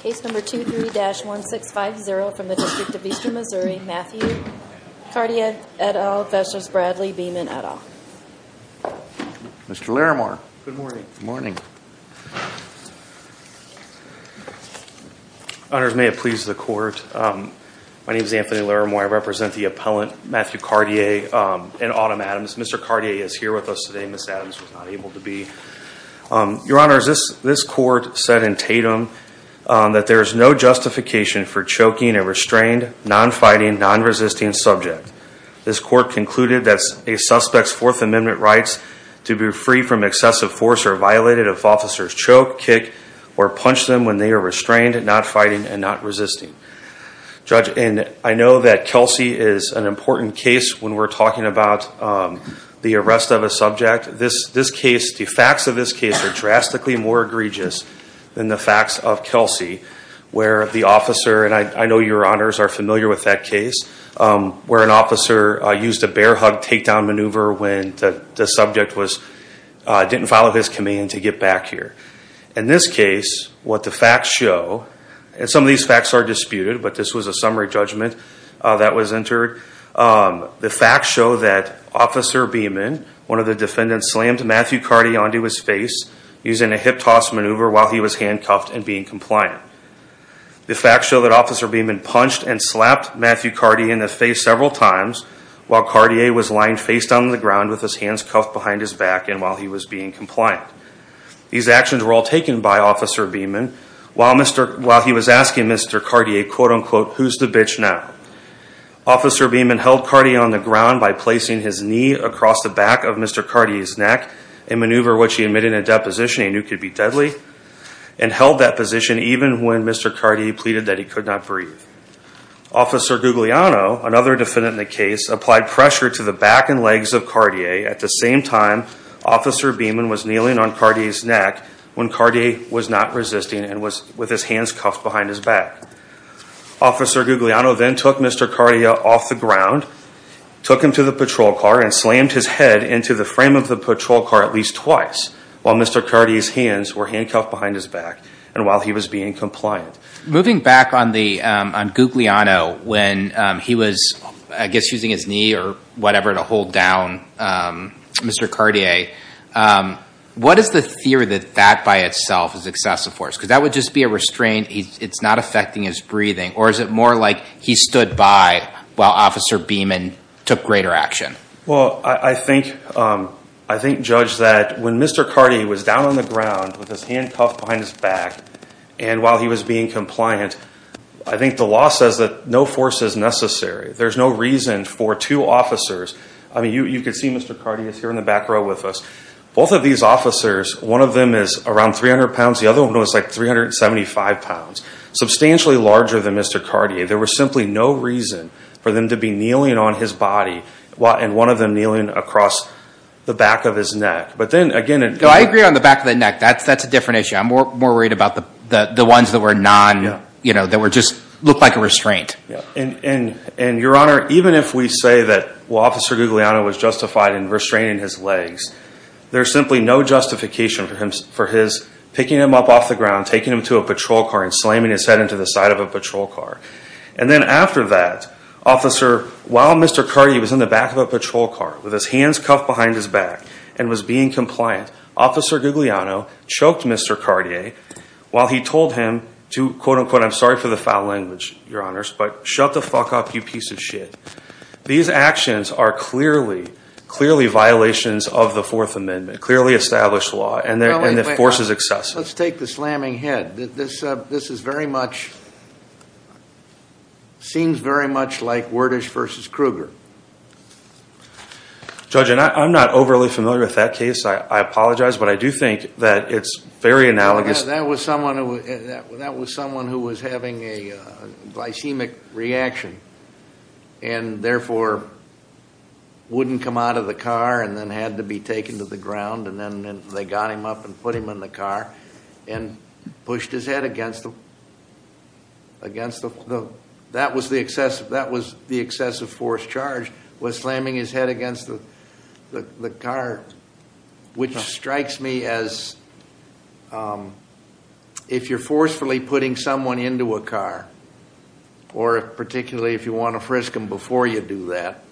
Case number 23-1650 from the District of Eastern Missouri, Matthew Cartia et al. v. Bradley Beeman et al. Mr. Laramore. Good morning. Good morning. Honors, may it please the Court. My name is Anthony Laramore. I represent the appellant, Matthew Cartia and Autumn Adams. Mr. Cartia is here with us today. Ms. Adams was not able to be. Your Honors, this Court said in Tatum that there is no justification for choking a restrained, non-fighting, non-resisting subject. This Court concluded that a suspect's Fourth Amendment rights to be free from excessive force are violated if officers choke, kick, or punch them when they are restrained, not fighting, and not resisting. Judge, I know that Kelsey is an important case when we're talking about the arrest of a subject. The facts of this case are drastically more egregious than the facts of Kelsey, where the officer, and I know your Honors are familiar with that case, where an officer used a bear hug takedown maneuver when the subject didn't follow his command to get back here. In this case, what the facts show, and some of these facts are disputed, but this was a summary judgment that was entered. The facts show that Officer Beeman, one of the defendants, slammed Matthew Cartia onto his face using a hip toss maneuver while he was handcuffed and being compliant. The facts show that Officer Beeman punched and slapped Matthew Cartia in the face several times while Cartia was lying face down on the ground with his hands cuffed behind his back and while he was being compliant. These actions were all taken by Officer Beeman while he was asking Mr. Cartia, quote unquote, who's the bitch now? Officer Beeman held Cartia on the ground by placing his knee across the back of Mr. Cartia's neck, a maneuver which he admitted in a deposition he knew could be deadly, and held that position even when Mr. Cartia pleaded that he could not breathe. Officer Guglielmo, another defendant in the case, applied pressure to the back and legs of Cartia. At the same time, Officer Beeman was kneeling on Cartia's neck when Cartia was not resisting and was with his hands cuffed behind his back. Officer Guglielmo then took Mr. Cartia off the ground, took him to the patrol car, and slammed his head into the frame of the patrol car at least twice while Mr. Cartia's hands were handcuffed behind his back and while he was being compliant. Moving back on Guglielmo, when he was, I guess, using his knee or whatever to hold down Mr. Cartia, what is the theory that that by itself is excessive force? Because that would just be a restraint, it's not affecting his breathing, or is it more like he stood by while Officer Beeman took greater action? Well, I think, Judge, that when Mr. Cartia was down on the ground with his hand cuffed behind his back and while he was being compliant, I think the law says that no force is necessary. There's no reason for two officers, I mean, you can see Mr. Cartia is here in the back row with us. Both of these officers, one of them is around 300 pounds, the other one was like 375 pounds, substantially larger than Mr. Cartia. There was simply no reason for them to be kneeling on his body, and one of them kneeling across the back of his neck. But then again... No, I agree on the back of the neck. That's a different issue. I'm more worried about the ones that were non, you know, that just looked like a restraint. And, Your Honor, even if we say that Officer Guglielmo was justified in restraining his legs, there's simply no justification for his picking him up off the ground, taking him to a patrol car and slamming his head into the side of a patrol car. And then after that, Officer, while Mr. Cartia was in the back of a patrol car with his hands cuffed behind his back and was being compliant, Officer Guglielmo choked Mr. Cartia while he told him to, quote-unquote, I'm sorry for the foul language, Your Honors, but shut the fuck up, you piece of shit. These actions are clearly, clearly violations of the Fourth Amendment, clearly established law, and the force is excessive. Let's take the slamming head. This is very much, seems very much like Wordish v. Kruger. Judge, I'm not overly familiar with that case. I apologize, but I do think that it's very analogous. That was someone who was having a glycemic reaction and therefore wouldn't come out of the car and then had to be taken to the ground, and then they got him up and put him in the car and pushed his head against the, that was the excessive force charged, was slamming his head against the car, which strikes me as, if you're forcefully putting someone into a car, or particularly if you want to frisk them before you do that,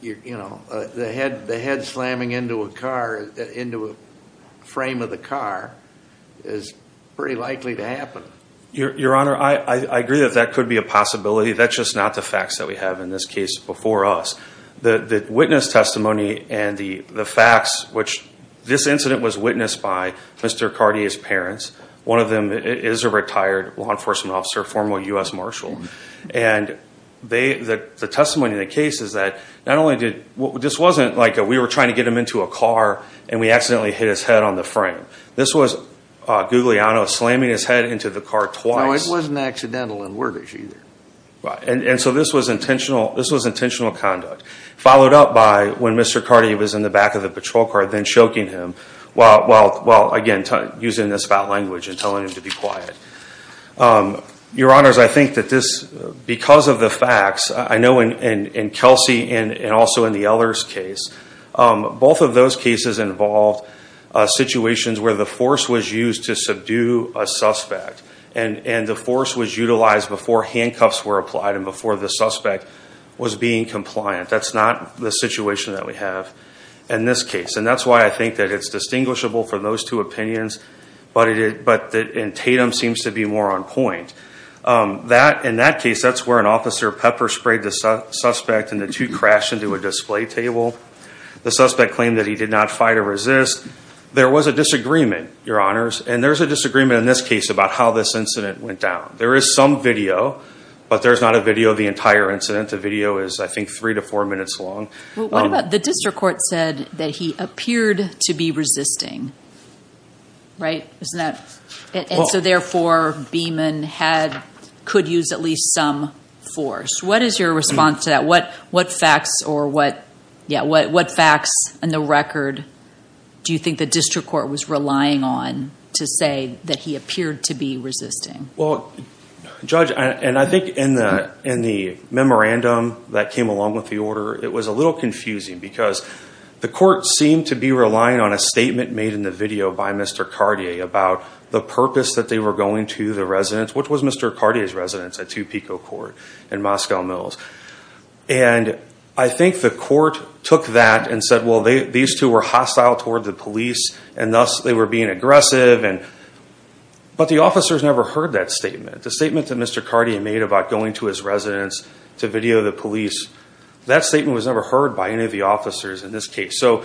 you know, the head slamming into a car, into a frame of the car is pretty likely to happen. Your Honor, I agree that that could be a possibility. That's just not the facts that we have in this case before us. The witness testimony and the facts, which this incident was witnessed by Mr. Cartier's parents. One of them is a retired law enforcement officer, a former U.S. Marshal. And the testimony in the case is that not only did, this wasn't like we were trying to get him into a car and we accidentally hit his head on the frame. This was Guglielmo slamming his head into the car twice. No, it wasn't accidental in Wordish either. And so this was intentional, this was intentional conduct. Followed up by when Mr. Cartier was in the back of the patrol car, then choking him. While, again, using this foul language and telling him to be quiet. Your Honors, I think that this, because of the facts, I know in Kelsey and also in the Eller's case, both of those cases involved situations where the force was used to subdue a suspect. And the force was utilized before handcuffs were applied and before the suspect was being compliant. That's not the situation that we have in this case. And that's why I think that it's distinguishable for those two opinions, but in Tatum seems to be more on point. In that case, that's where an officer pepper sprayed the suspect and the two crashed into a display table. The suspect claimed that he did not fight or resist. There was a disagreement, Your Honors. And there's a disagreement in this case about how this incident went down. There is some video, but there's not a video of the entire incident. The video is, I think, three to four minutes long. Well, what about the district court said that he appeared to be resisting, right? Isn't that? And so, therefore, Beamon could use at least some force. What is your response to that? What facts and the record do you think the district court was relying on to say that he appeared to be resisting? Well, Judge, and I think in the memorandum that came along with the order, it was a little confusing because the court seemed to be relying on a statement made in the video by Mr. Cartier about the purpose that they were going to the residence, which was Mr. Cartier's residence at 2 Pico Court in Moscow Mills. And I think the court took that and said, well, these two were hostile toward the police, and thus they were being aggressive. But the officers never heard that statement. The statement that Mr. Cartier made about going to his residence to video the police, that statement was never heard by any of the officers in this case. So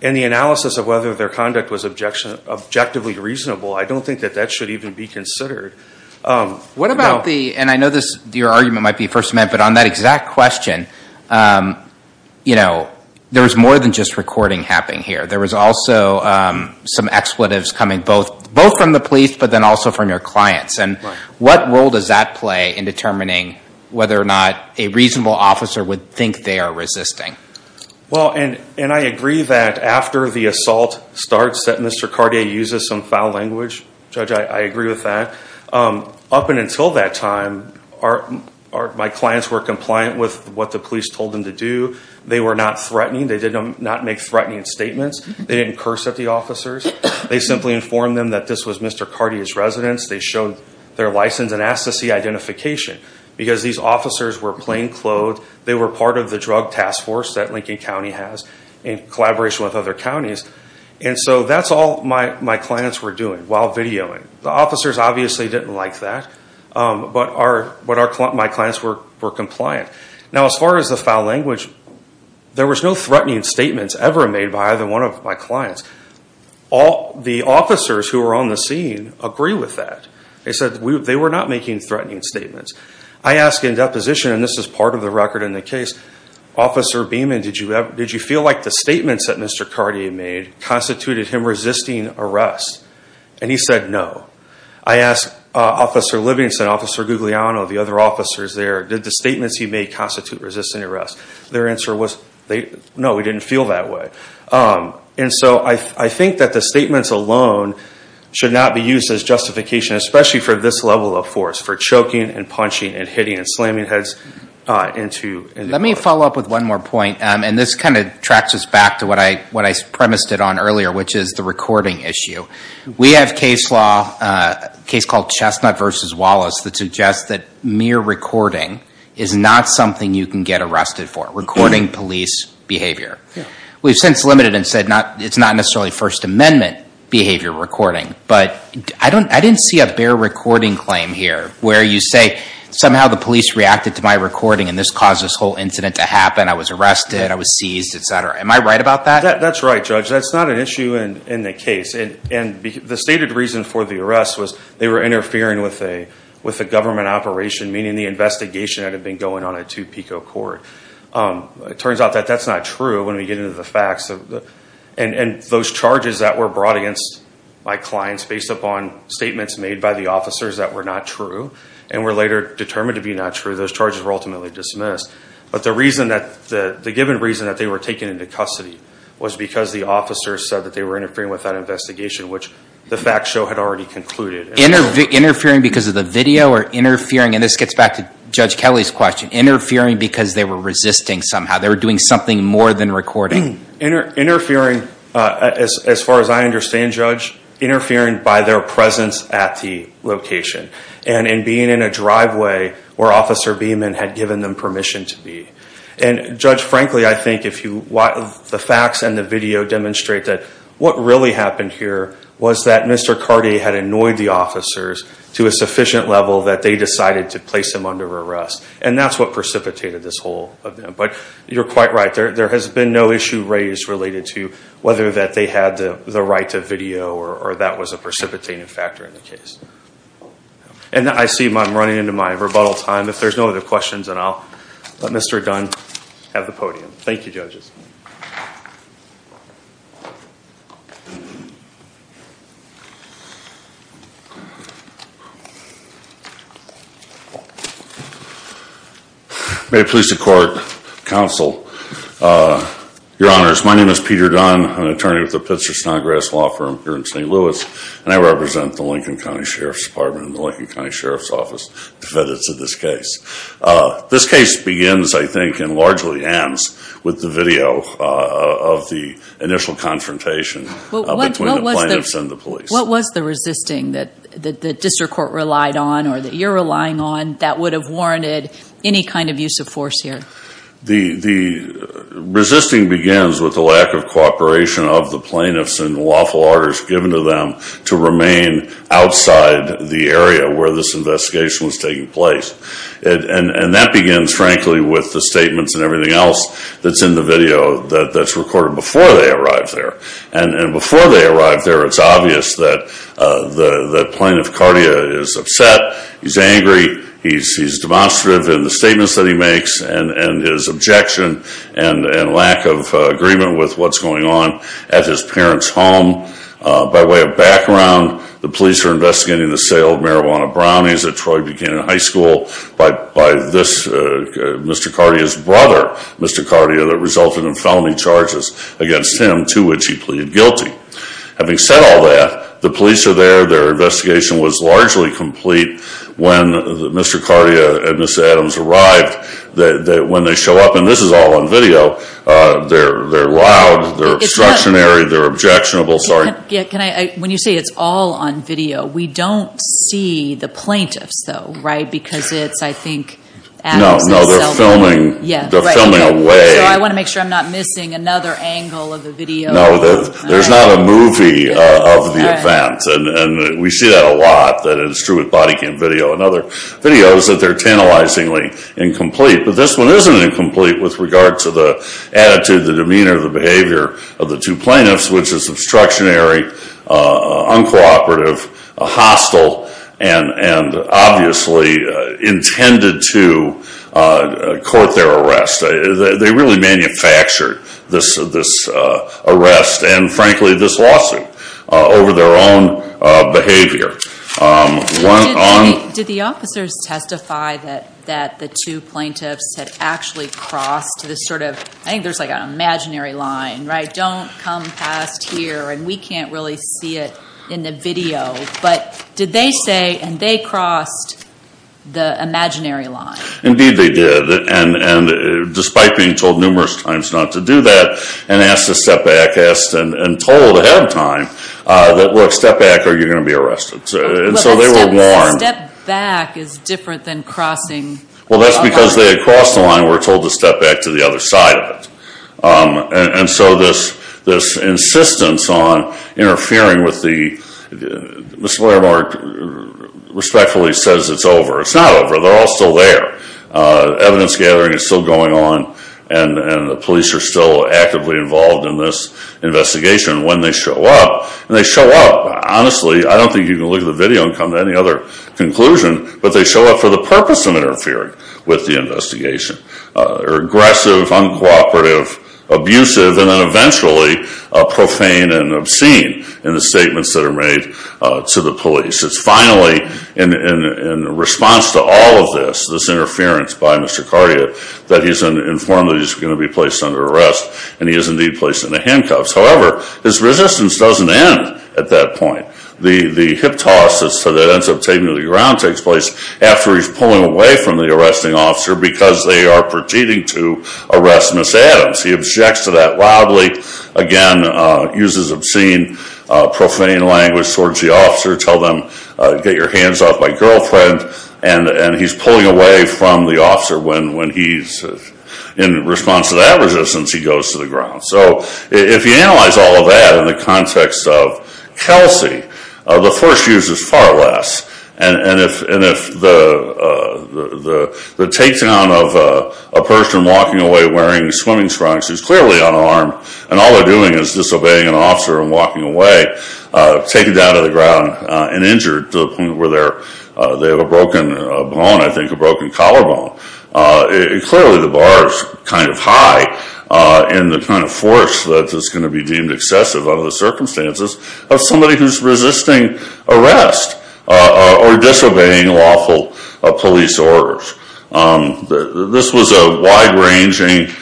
in the analysis of whether their conduct was objectively reasonable, I don't think that that should even be considered. What about the, and I know your argument might be First Amendment, but on that exact question, you know, there was more than just recording happening here. There was also some expletives coming both from the police but then also from your clients. And what role does that play in determining whether or not a reasonable officer would think they are resisting? Well, and I agree that after the assault starts that Mr. Cartier uses some foul language. Judge, I agree with that. Up until that time, my clients were compliant with what the police told them to do. They were not threatening. They did not make threatening statements. They didn't curse at the officers. They simply informed them that this was Mr. Cartier's residence. They showed their license and asked to see identification because these officers were plain clothed. They were part of the drug task force that Lincoln County has in collaboration with other counties. And so that's all my clients were doing. While videoing. The officers obviously didn't like that. But my clients were compliant. Now as far as the foul language, there was no threatening statements ever made by either one of my clients. All the officers who were on the scene agree with that. They said they were not making threatening statements. I ask in deposition, and this is part of the record in the case, Officer Beeman, did you feel like the statements that Mr. Cartier made constituted him resisting arrest? And he said no. I asked Officer Livingston, Officer Guglielmo, the other officers there, did the statements he made constitute resisting arrest? Their answer was no, it didn't feel that way. And so I think that the statements alone should not be used as justification, especially for this level of force, for choking and punching and hitting and slamming heads into. Let me follow up with one more point. And this kind of tracks us back to what I premised it on earlier, which is the recording issue. We have case law, a case called Chestnut v. Wallace, that suggests that mere recording is not something you can get arrested for, recording police behavior. We've since limited and said it's not necessarily First Amendment behavior recording. But I didn't see a bare recording claim here where you say somehow the police reacted to my recording and this caused this whole incident to happen, I was arrested, I was seized, et cetera. Am I right about that? That's right, Judge. That's not an issue in the case. And the stated reason for the arrest was they were interfering with a government operation, meaning the investigation had been going on a two-pico court. It turns out that that's not true when we get into the facts. And those charges that were brought against my clients based upon statements made by the officers that were not true and were later determined to be not true, those charges were ultimately dismissed. But the given reason that they were taken into custody was because the officers said that they were interfering with that investigation, which the fact show had already concluded. Interfering because of the video or interfering, and this gets back to Judge Kelly's question, interfering because they were resisting somehow. They were doing something more than recording. Interfering, as far as I understand, Judge, interfering by their presence at the location and in being in a driveway where Officer Beeman had given them permission to be. And, Judge, frankly, I think the facts and the video demonstrate that what really happened here was that Mr. Cartier had annoyed the officers to a sufficient level that they decided to place him under arrest. And that's what precipitated this whole event. But you're quite right. There has been no issue raised related to whether that they had the right to video or that was a precipitating factor in the case. And I see I'm running into my rebuttal time. If there's no other questions, then I'll let Mr. Dunn have the podium. Thank you, judges. May it please the Court, Counsel, Your Honors. My name is Peter Dunn. I'm an attorney with the Pitzer Snodgrass Law Firm here in St. Louis, and I represent the Lincoln County Sheriff's Department and the Lincoln County Sheriff's Office defendants of this case. This case begins, I think, and largely ends with the video of the initial confrontation between the plaintiffs and the police. What was the resisting that the district court relied on or that you're relying on that would have warranted any kind of use of force here? The resisting begins with the lack of cooperation of the plaintiffs and the lawful orders given to them to remain outside the area where this investigation was taking place. And that begins, frankly, with the statements and everything else that's in the video that's recorded before they arrived there. And before they arrived there, it's obvious that Plaintiff Cardia is upset, he's angry, he's demonstrative in the statements that he makes and his objection and lack of agreement with what's going on at his parents' home. By way of background, the police are investigating the sale of marijuana brownies at Troy Buchanan High School by this, Mr. Cardia's brother, Mr. Cardia, that resulted in felony charges against him to which he pleaded guilty. Having said all that, the police are there, their investigation was largely complete when Mr. Cardia and Ms. Adams arrived. When they show up, and this is all on video, they're loud, they're obstructionary, they're objectionable, sorry. When you say it's all on video, we don't see the plaintiffs, though, right? Because it's, I think, Adams and Selden. No, they're filming away. So I want to make sure I'm not missing another angle of the video. No, there's not a movie of the event, and we see that a lot. That is true with body cam video and other videos that they're tantalizingly incomplete. But this one isn't incomplete with regard to the attitude, the demeanor, the behavior of the two plaintiffs, which is obstructionary, uncooperative, hostile, and obviously intended to court their arrest. They really manufactured this arrest, and frankly, this lawsuit, over their own behavior. Did the officers testify that the two plaintiffs had actually crossed this sort of, I think there's like an imaginary line, right? Don't come past here, and we can't really see it in the video. But did they say, and they crossed the imaginary line? Indeed they did, and despite being told numerous times not to do that, and asked to step back, asked and told ahead of time, that look, step back or you're going to be arrested. And so they were warned. Well, that step back is different than crossing. Well, that's because they had crossed the line and were told to step back to the other side of it. And so this insistence on interfering with the, Ms. Blairmark respectfully says it's over. It's not over. They're all still there. Evidence gathering is still going on, and the police are still actively involved in this investigation. When they show up, and they show up, honestly, I don't think you can look at the video and come to any other conclusion, but they show up for the purpose of interfering with the investigation. They're aggressive, uncooperative, abusive, and then eventually profane and obscene in the statements that are made to the police. It's finally in response to all of this, this interference by Mr. Cardiot, that he's informed that he's going to be placed under arrest, and he is indeed placed in the handcuffs. However, his resistance doesn't end at that point. The hip toss that ends up taking him to the ground takes place after he's pulling away from the arresting officer because they are proceeding to arrest Ms. Adams. He objects to that loudly. Again, uses obscene, profane language towards the officer. Tell them, get your hands off my girlfriend, and he's pulling away from the officer. When he's in response to that resistance, he goes to the ground. If you analyze all of that in the context of Kelsey, the force used is far less. And if the takedown of a person walking away wearing swimming trunks is clearly unarmed, and all they're doing is disobeying an officer and walking away, taken down to the ground and injured to the point where they have a broken bone, I think a broken collarbone, clearly the bar is kind of high in the kind of force that is going to be deemed excessive under the circumstances of somebody who's resisting arrest or disobeying lawful police orders. This was a wide-ranging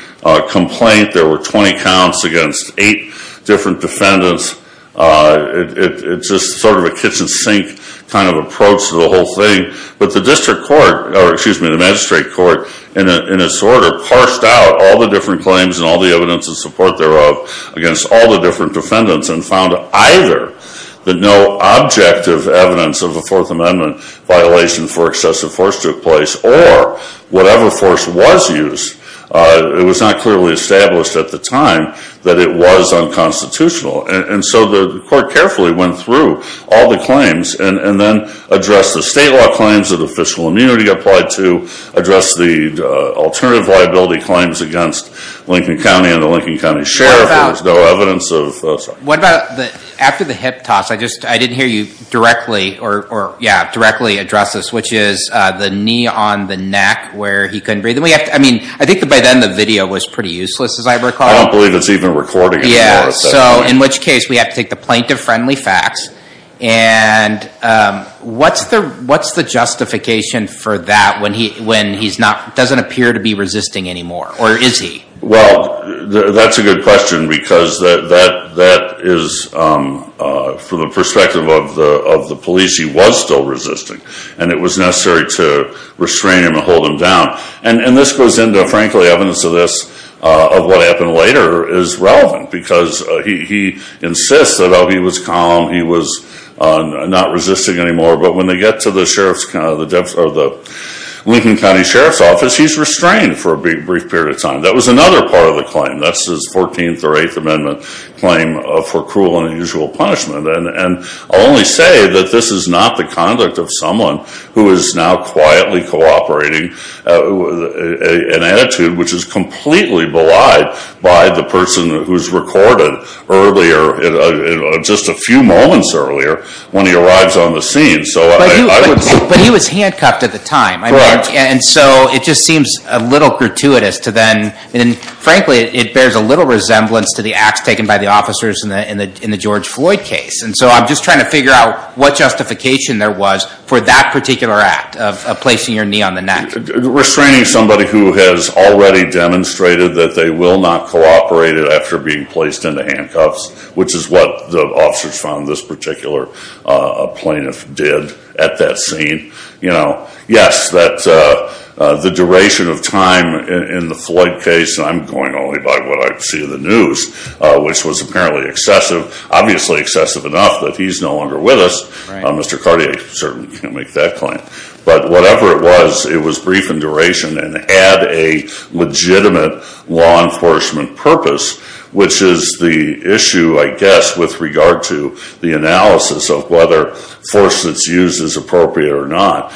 complaint. There were 20 counts against eight different defendants. It's just sort of a kitchen sink kind of approach to the whole thing. But the district court, or excuse me, the magistrate court, in its order, harshed out all the different claims and all the evidence in support thereof against all the different defendants and found either that no objective evidence of a Fourth Amendment violation for excessive force took place or whatever force was used. It was not clearly established at the time that it was unconstitutional. And so the court carefully went through all the claims and then addressed the state law claims that official immunity applied to, addressed the alternative liability claims against Lincoln County and the Lincoln County Sheriff. There was no evidence of those. What about after the hip toss, I didn't hear you directly address this, which is the knee on the neck where he couldn't breathe. I think by then the video was pretty useless, as I recall. I don't believe it's even recording anymore at that point. So in which case we have to take the plaintiff-friendly facts. And what's the justification for that when he doesn't appear to be resisting anymore? Or is he? Well, that's a good question because that is, from the perspective of the police, he was still resisting. And it was necessary to restrain him and hold him down. And this goes into, frankly, evidence of this, of what happened later is relevant because he insists that, oh, he was calm, he was not resisting anymore. But when they get to the Lincoln County Sheriff's Office, he's restrained for a brief period of time. That was another part of the claim. That's his 14th or 8th Amendment claim for cruel and unusual punishment. And I'll only say that this is not the conduct of someone who is now quietly cooperating, an attitude which is completely belied by the person who's recorded earlier, just a few moments earlier, when he arrives on the scene. But he was handcuffed at the time. Correct. And so it just seems a little gratuitous to then, and frankly, it bears a little resemblance to the acts taken by the officers in the George Floyd case. And so I'm just trying to figure out what justification there was for that particular act of placing your knee on the neck. Restraining somebody who has already demonstrated that they will not cooperate after being placed into handcuffs, which is what the officers found this particular plaintiff did at that scene. Yes, the duration of time in the Floyd case, and I'm going only by what I see in the news, which was apparently excessive, obviously excessive enough that he's no longer with us. Mr. Cartier certainly can't make that claim. But whatever it was, it was brief in duration and add a legitimate law enforcement purpose, which is the issue, I guess, with regard to the analysis of whether force that's used is appropriate or not.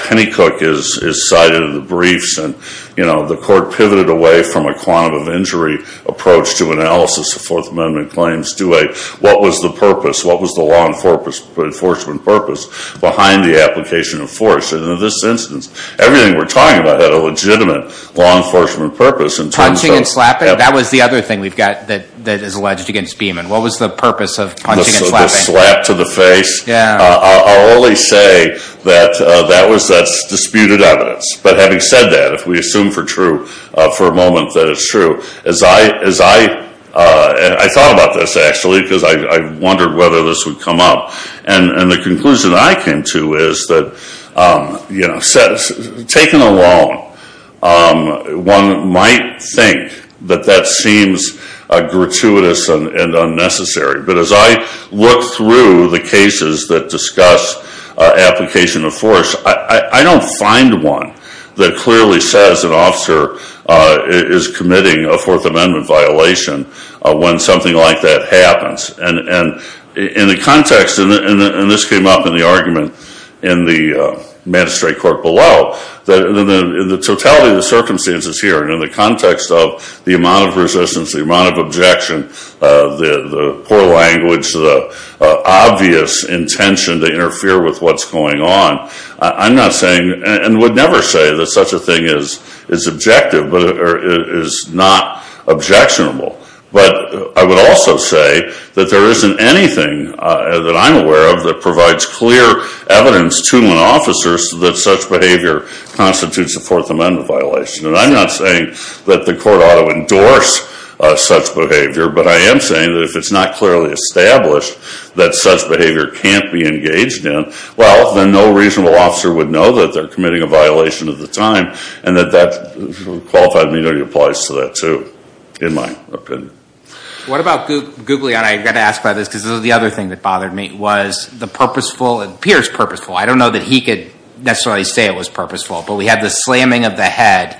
Penny Cook is cited in the briefs, and the court pivoted away from a quantum of injury approach to analysis of Fourth Amendment claims. What was the purpose? What was the law enforcement purpose behind the application of force? And in this instance, everything we're talking about had a legitimate law enforcement purpose. Punching and slapping? That was the other thing we've got that is alleged against Beeman. What was the purpose of punching and slapping? The slap to the face? I'll only say that that's disputed evidence. But having said that, if we assume for a moment that it's true, as I thought about this, actually, because I wondered whether this would come up, and the conclusion I came to is that, you know, taken alone, one might think that that seems gratuitous and unnecessary. But as I look through the cases that discuss application of force, I don't find one that clearly says an officer is committing a Fourth Amendment violation when something like that happens. And in the context, and this came up in the argument in the magistrate court below, that in the totality of the circumstances here and in the context of the amount of resistance, the amount of objection, the poor language, the obvious intention to interfere with what's going on, I'm not saying, and would never say, that such a thing is objective or is not objectionable. But I would also say that there isn't anything that I'm aware of that provides clear evidence to an officer that such behavior constitutes a Fourth Amendment violation. And I'm not saying that the court ought to endorse such behavior, but I am saying that if it's not clearly established that such behavior can't be engaged in, well, then no reasonable officer would know that they're committing a violation at the time, and that that Qualified Immunity applies to that, too, in my opinion. What about Guglielmo, and I've got to ask about this because this is the other thing that bothered me, was the purposeful, it appears purposeful, I don't know that he could necessarily say it was purposeful, but we had the slamming of the head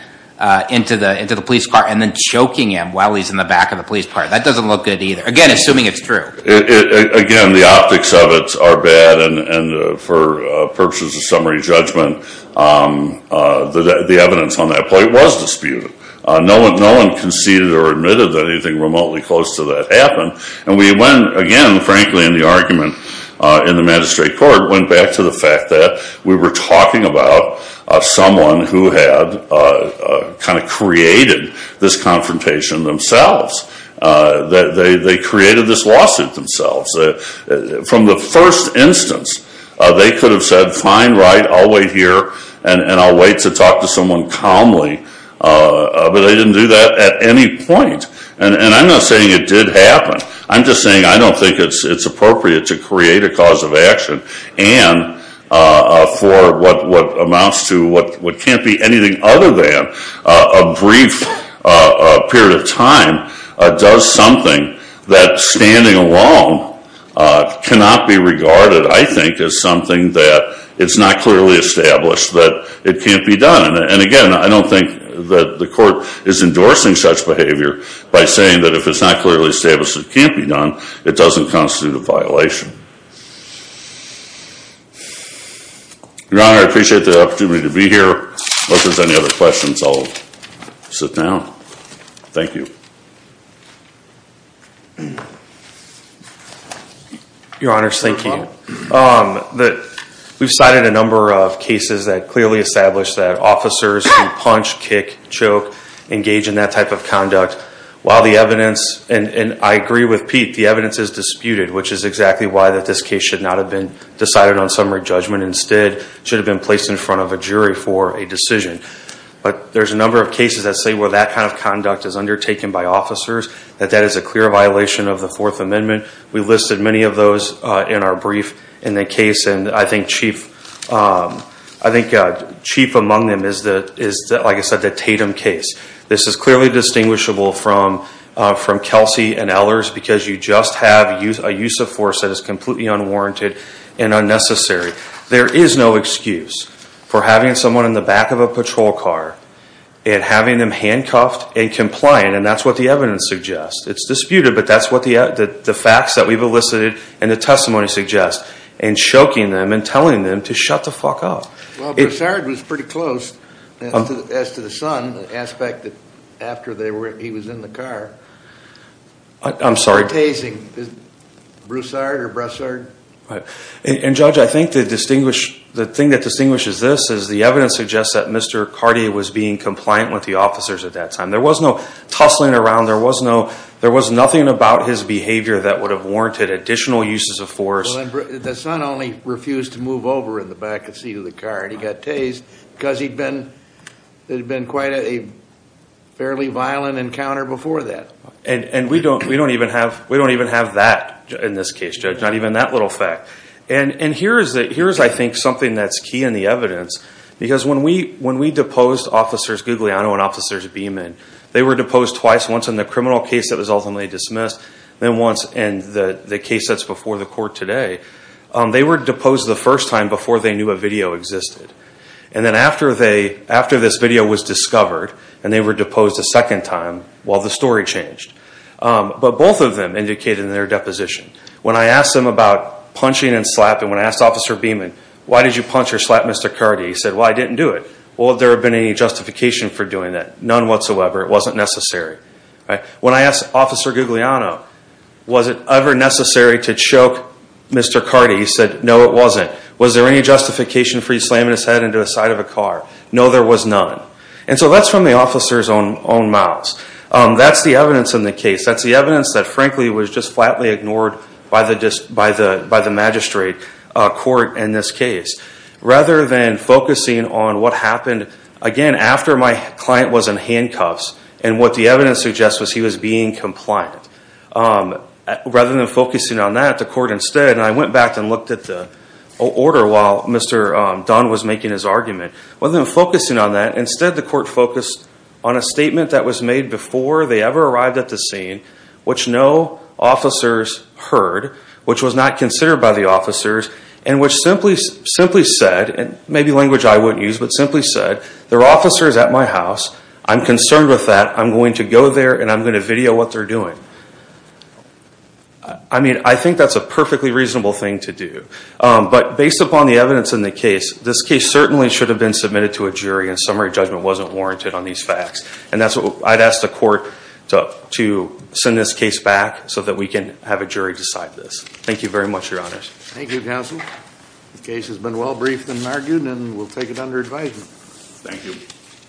into the police car and then choking him while he's in the back of the police car. That doesn't look good either. Again, assuming it's true. Again, the optics of it are bad, and for purposes of summary judgment, the evidence on that point was disputed. No one conceded or admitted that anything remotely close to that happened. And we went, again, frankly, in the argument in the magistrate court, went back to the fact that we were talking about someone who had kind of created this confrontation themselves. They created this lawsuit themselves. From the first instance, they could have said, fine, right, I'll wait here, and I'll wait to talk to someone calmly. But they didn't do that at any point. And I'm not saying it did happen. I'm just saying I don't think it's appropriate to create a cause of action, and for what amounts to what can't be anything other than a brief period of time, does something that, standing alone, cannot be regarded, I think, as something that is not clearly established, that it can't be done. And again, I don't think that the court is endorsing such behavior by saying that if it's not clearly established it can't be done, it doesn't constitute a violation. Your Honor, I appreciate the opportunity to be here. Unless there's any other questions, I'll sit down. Thank you. Your Honor, thank you. We've cited a number of cases that clearly establish that officers can punch, kick, choke, engage in that type of conduct. While the evidence, and I agree with Pete, the evidence is disputed, which is exactly why this case should not have been decided on summary judgment. Instead, it should have been placed in front of a jury for a decision. But there's a number of cases that say where that kind of conduct is undertaken by officers, that that is a clear violation of the Fourth Amendment. We listed many of those in our brief in the case, and I think chief among them is, like I said, the Tatum case. This is clearly distinguishable from Kelsey and Ehlers, because you just have a use of force that is completely unwarranted and unnecessary. There is no excuse for having someone in the back of a patrol car and having them handcuffed and compliant, and that's what the evidence suggests. It's disputed, but that's what the facts that we've elicited and the testimony suggests, and choking them and telling them to shut the fuck up. Well, Broussard was pretty close as to the son, the aspect that after he was in the car. I'm sorry? Broussard or Broussard? And, Judge, I think the thing that distinguishes this is the evidence suggests that Mr. Cartier was being compliant with the officers at that time. There was no tussling around. There was nothing about his behavior that would have warranted additional uses of force. The son only refused to move over in the back seat of the car, and he got tased because it had been quite a fairly violent encounter before that. And we don't even have that in this case, Judge, not even that little fact. And here is, I think, something that's key in the evidence, because when we deposed Officers Guglielmo and Officers Beeman, they were deposed twice, once in the criminal case that was ultimately dismissed, then once in the case that's before the court today. They were deposed the first time before they knew a video existed. And then after this video was discovered and they were deposed a second time, well, the story changed. But both of them indicated in their deposition. When I asked them about punching and slapping, when I asked Officer Beeman, why did you punch or slap Mr. Cartier, he said, well, I didn't do it. Well, there have been any justification for doing that? None whatsoever. It wasn't necessary. When I asked Officer Guglielmo, was it ever necessary to choke Mr. Cartier, he said, no, it wasn't. Was there any justification for you slamming his head into the side of a car? No, there was none. And so that's from the officer's own mouths. That's the evidence in the case. That's the evidence that, frankly, was just flatly ignored by the magistrate court in this case. Rather than focusing on what happened, again, after my client was in handcuffs, and what the evidence suggests was he was being compliant. Rather than focusing on that, the court instead, and I went back and looked at the order while Mr. Dunn was making his argument. Rather than focusing on that, instead the court focused on a statement that was made before they ever arrived at the scene, which no officers heard, which was not considered by the officers, and which simply said, and maybe language I wouldn't use, but simply said, there are officers at my house, I'm concerned with that, I'm going to go there and I'm going to video what they're doing. I mean, I think that's a perfectly reasonable thing to do. But based upon the evidence in the case, this case certainly should have been submitted to a jury and summary judgment wasn't warranted on these facts. And I'd ask the court to send this case back so that we can have a jury decide this. Thank you very much, Your Honors. Thank you, Counsel. The case has been well briefed and argued, and we'll take it under advisement. Thank you.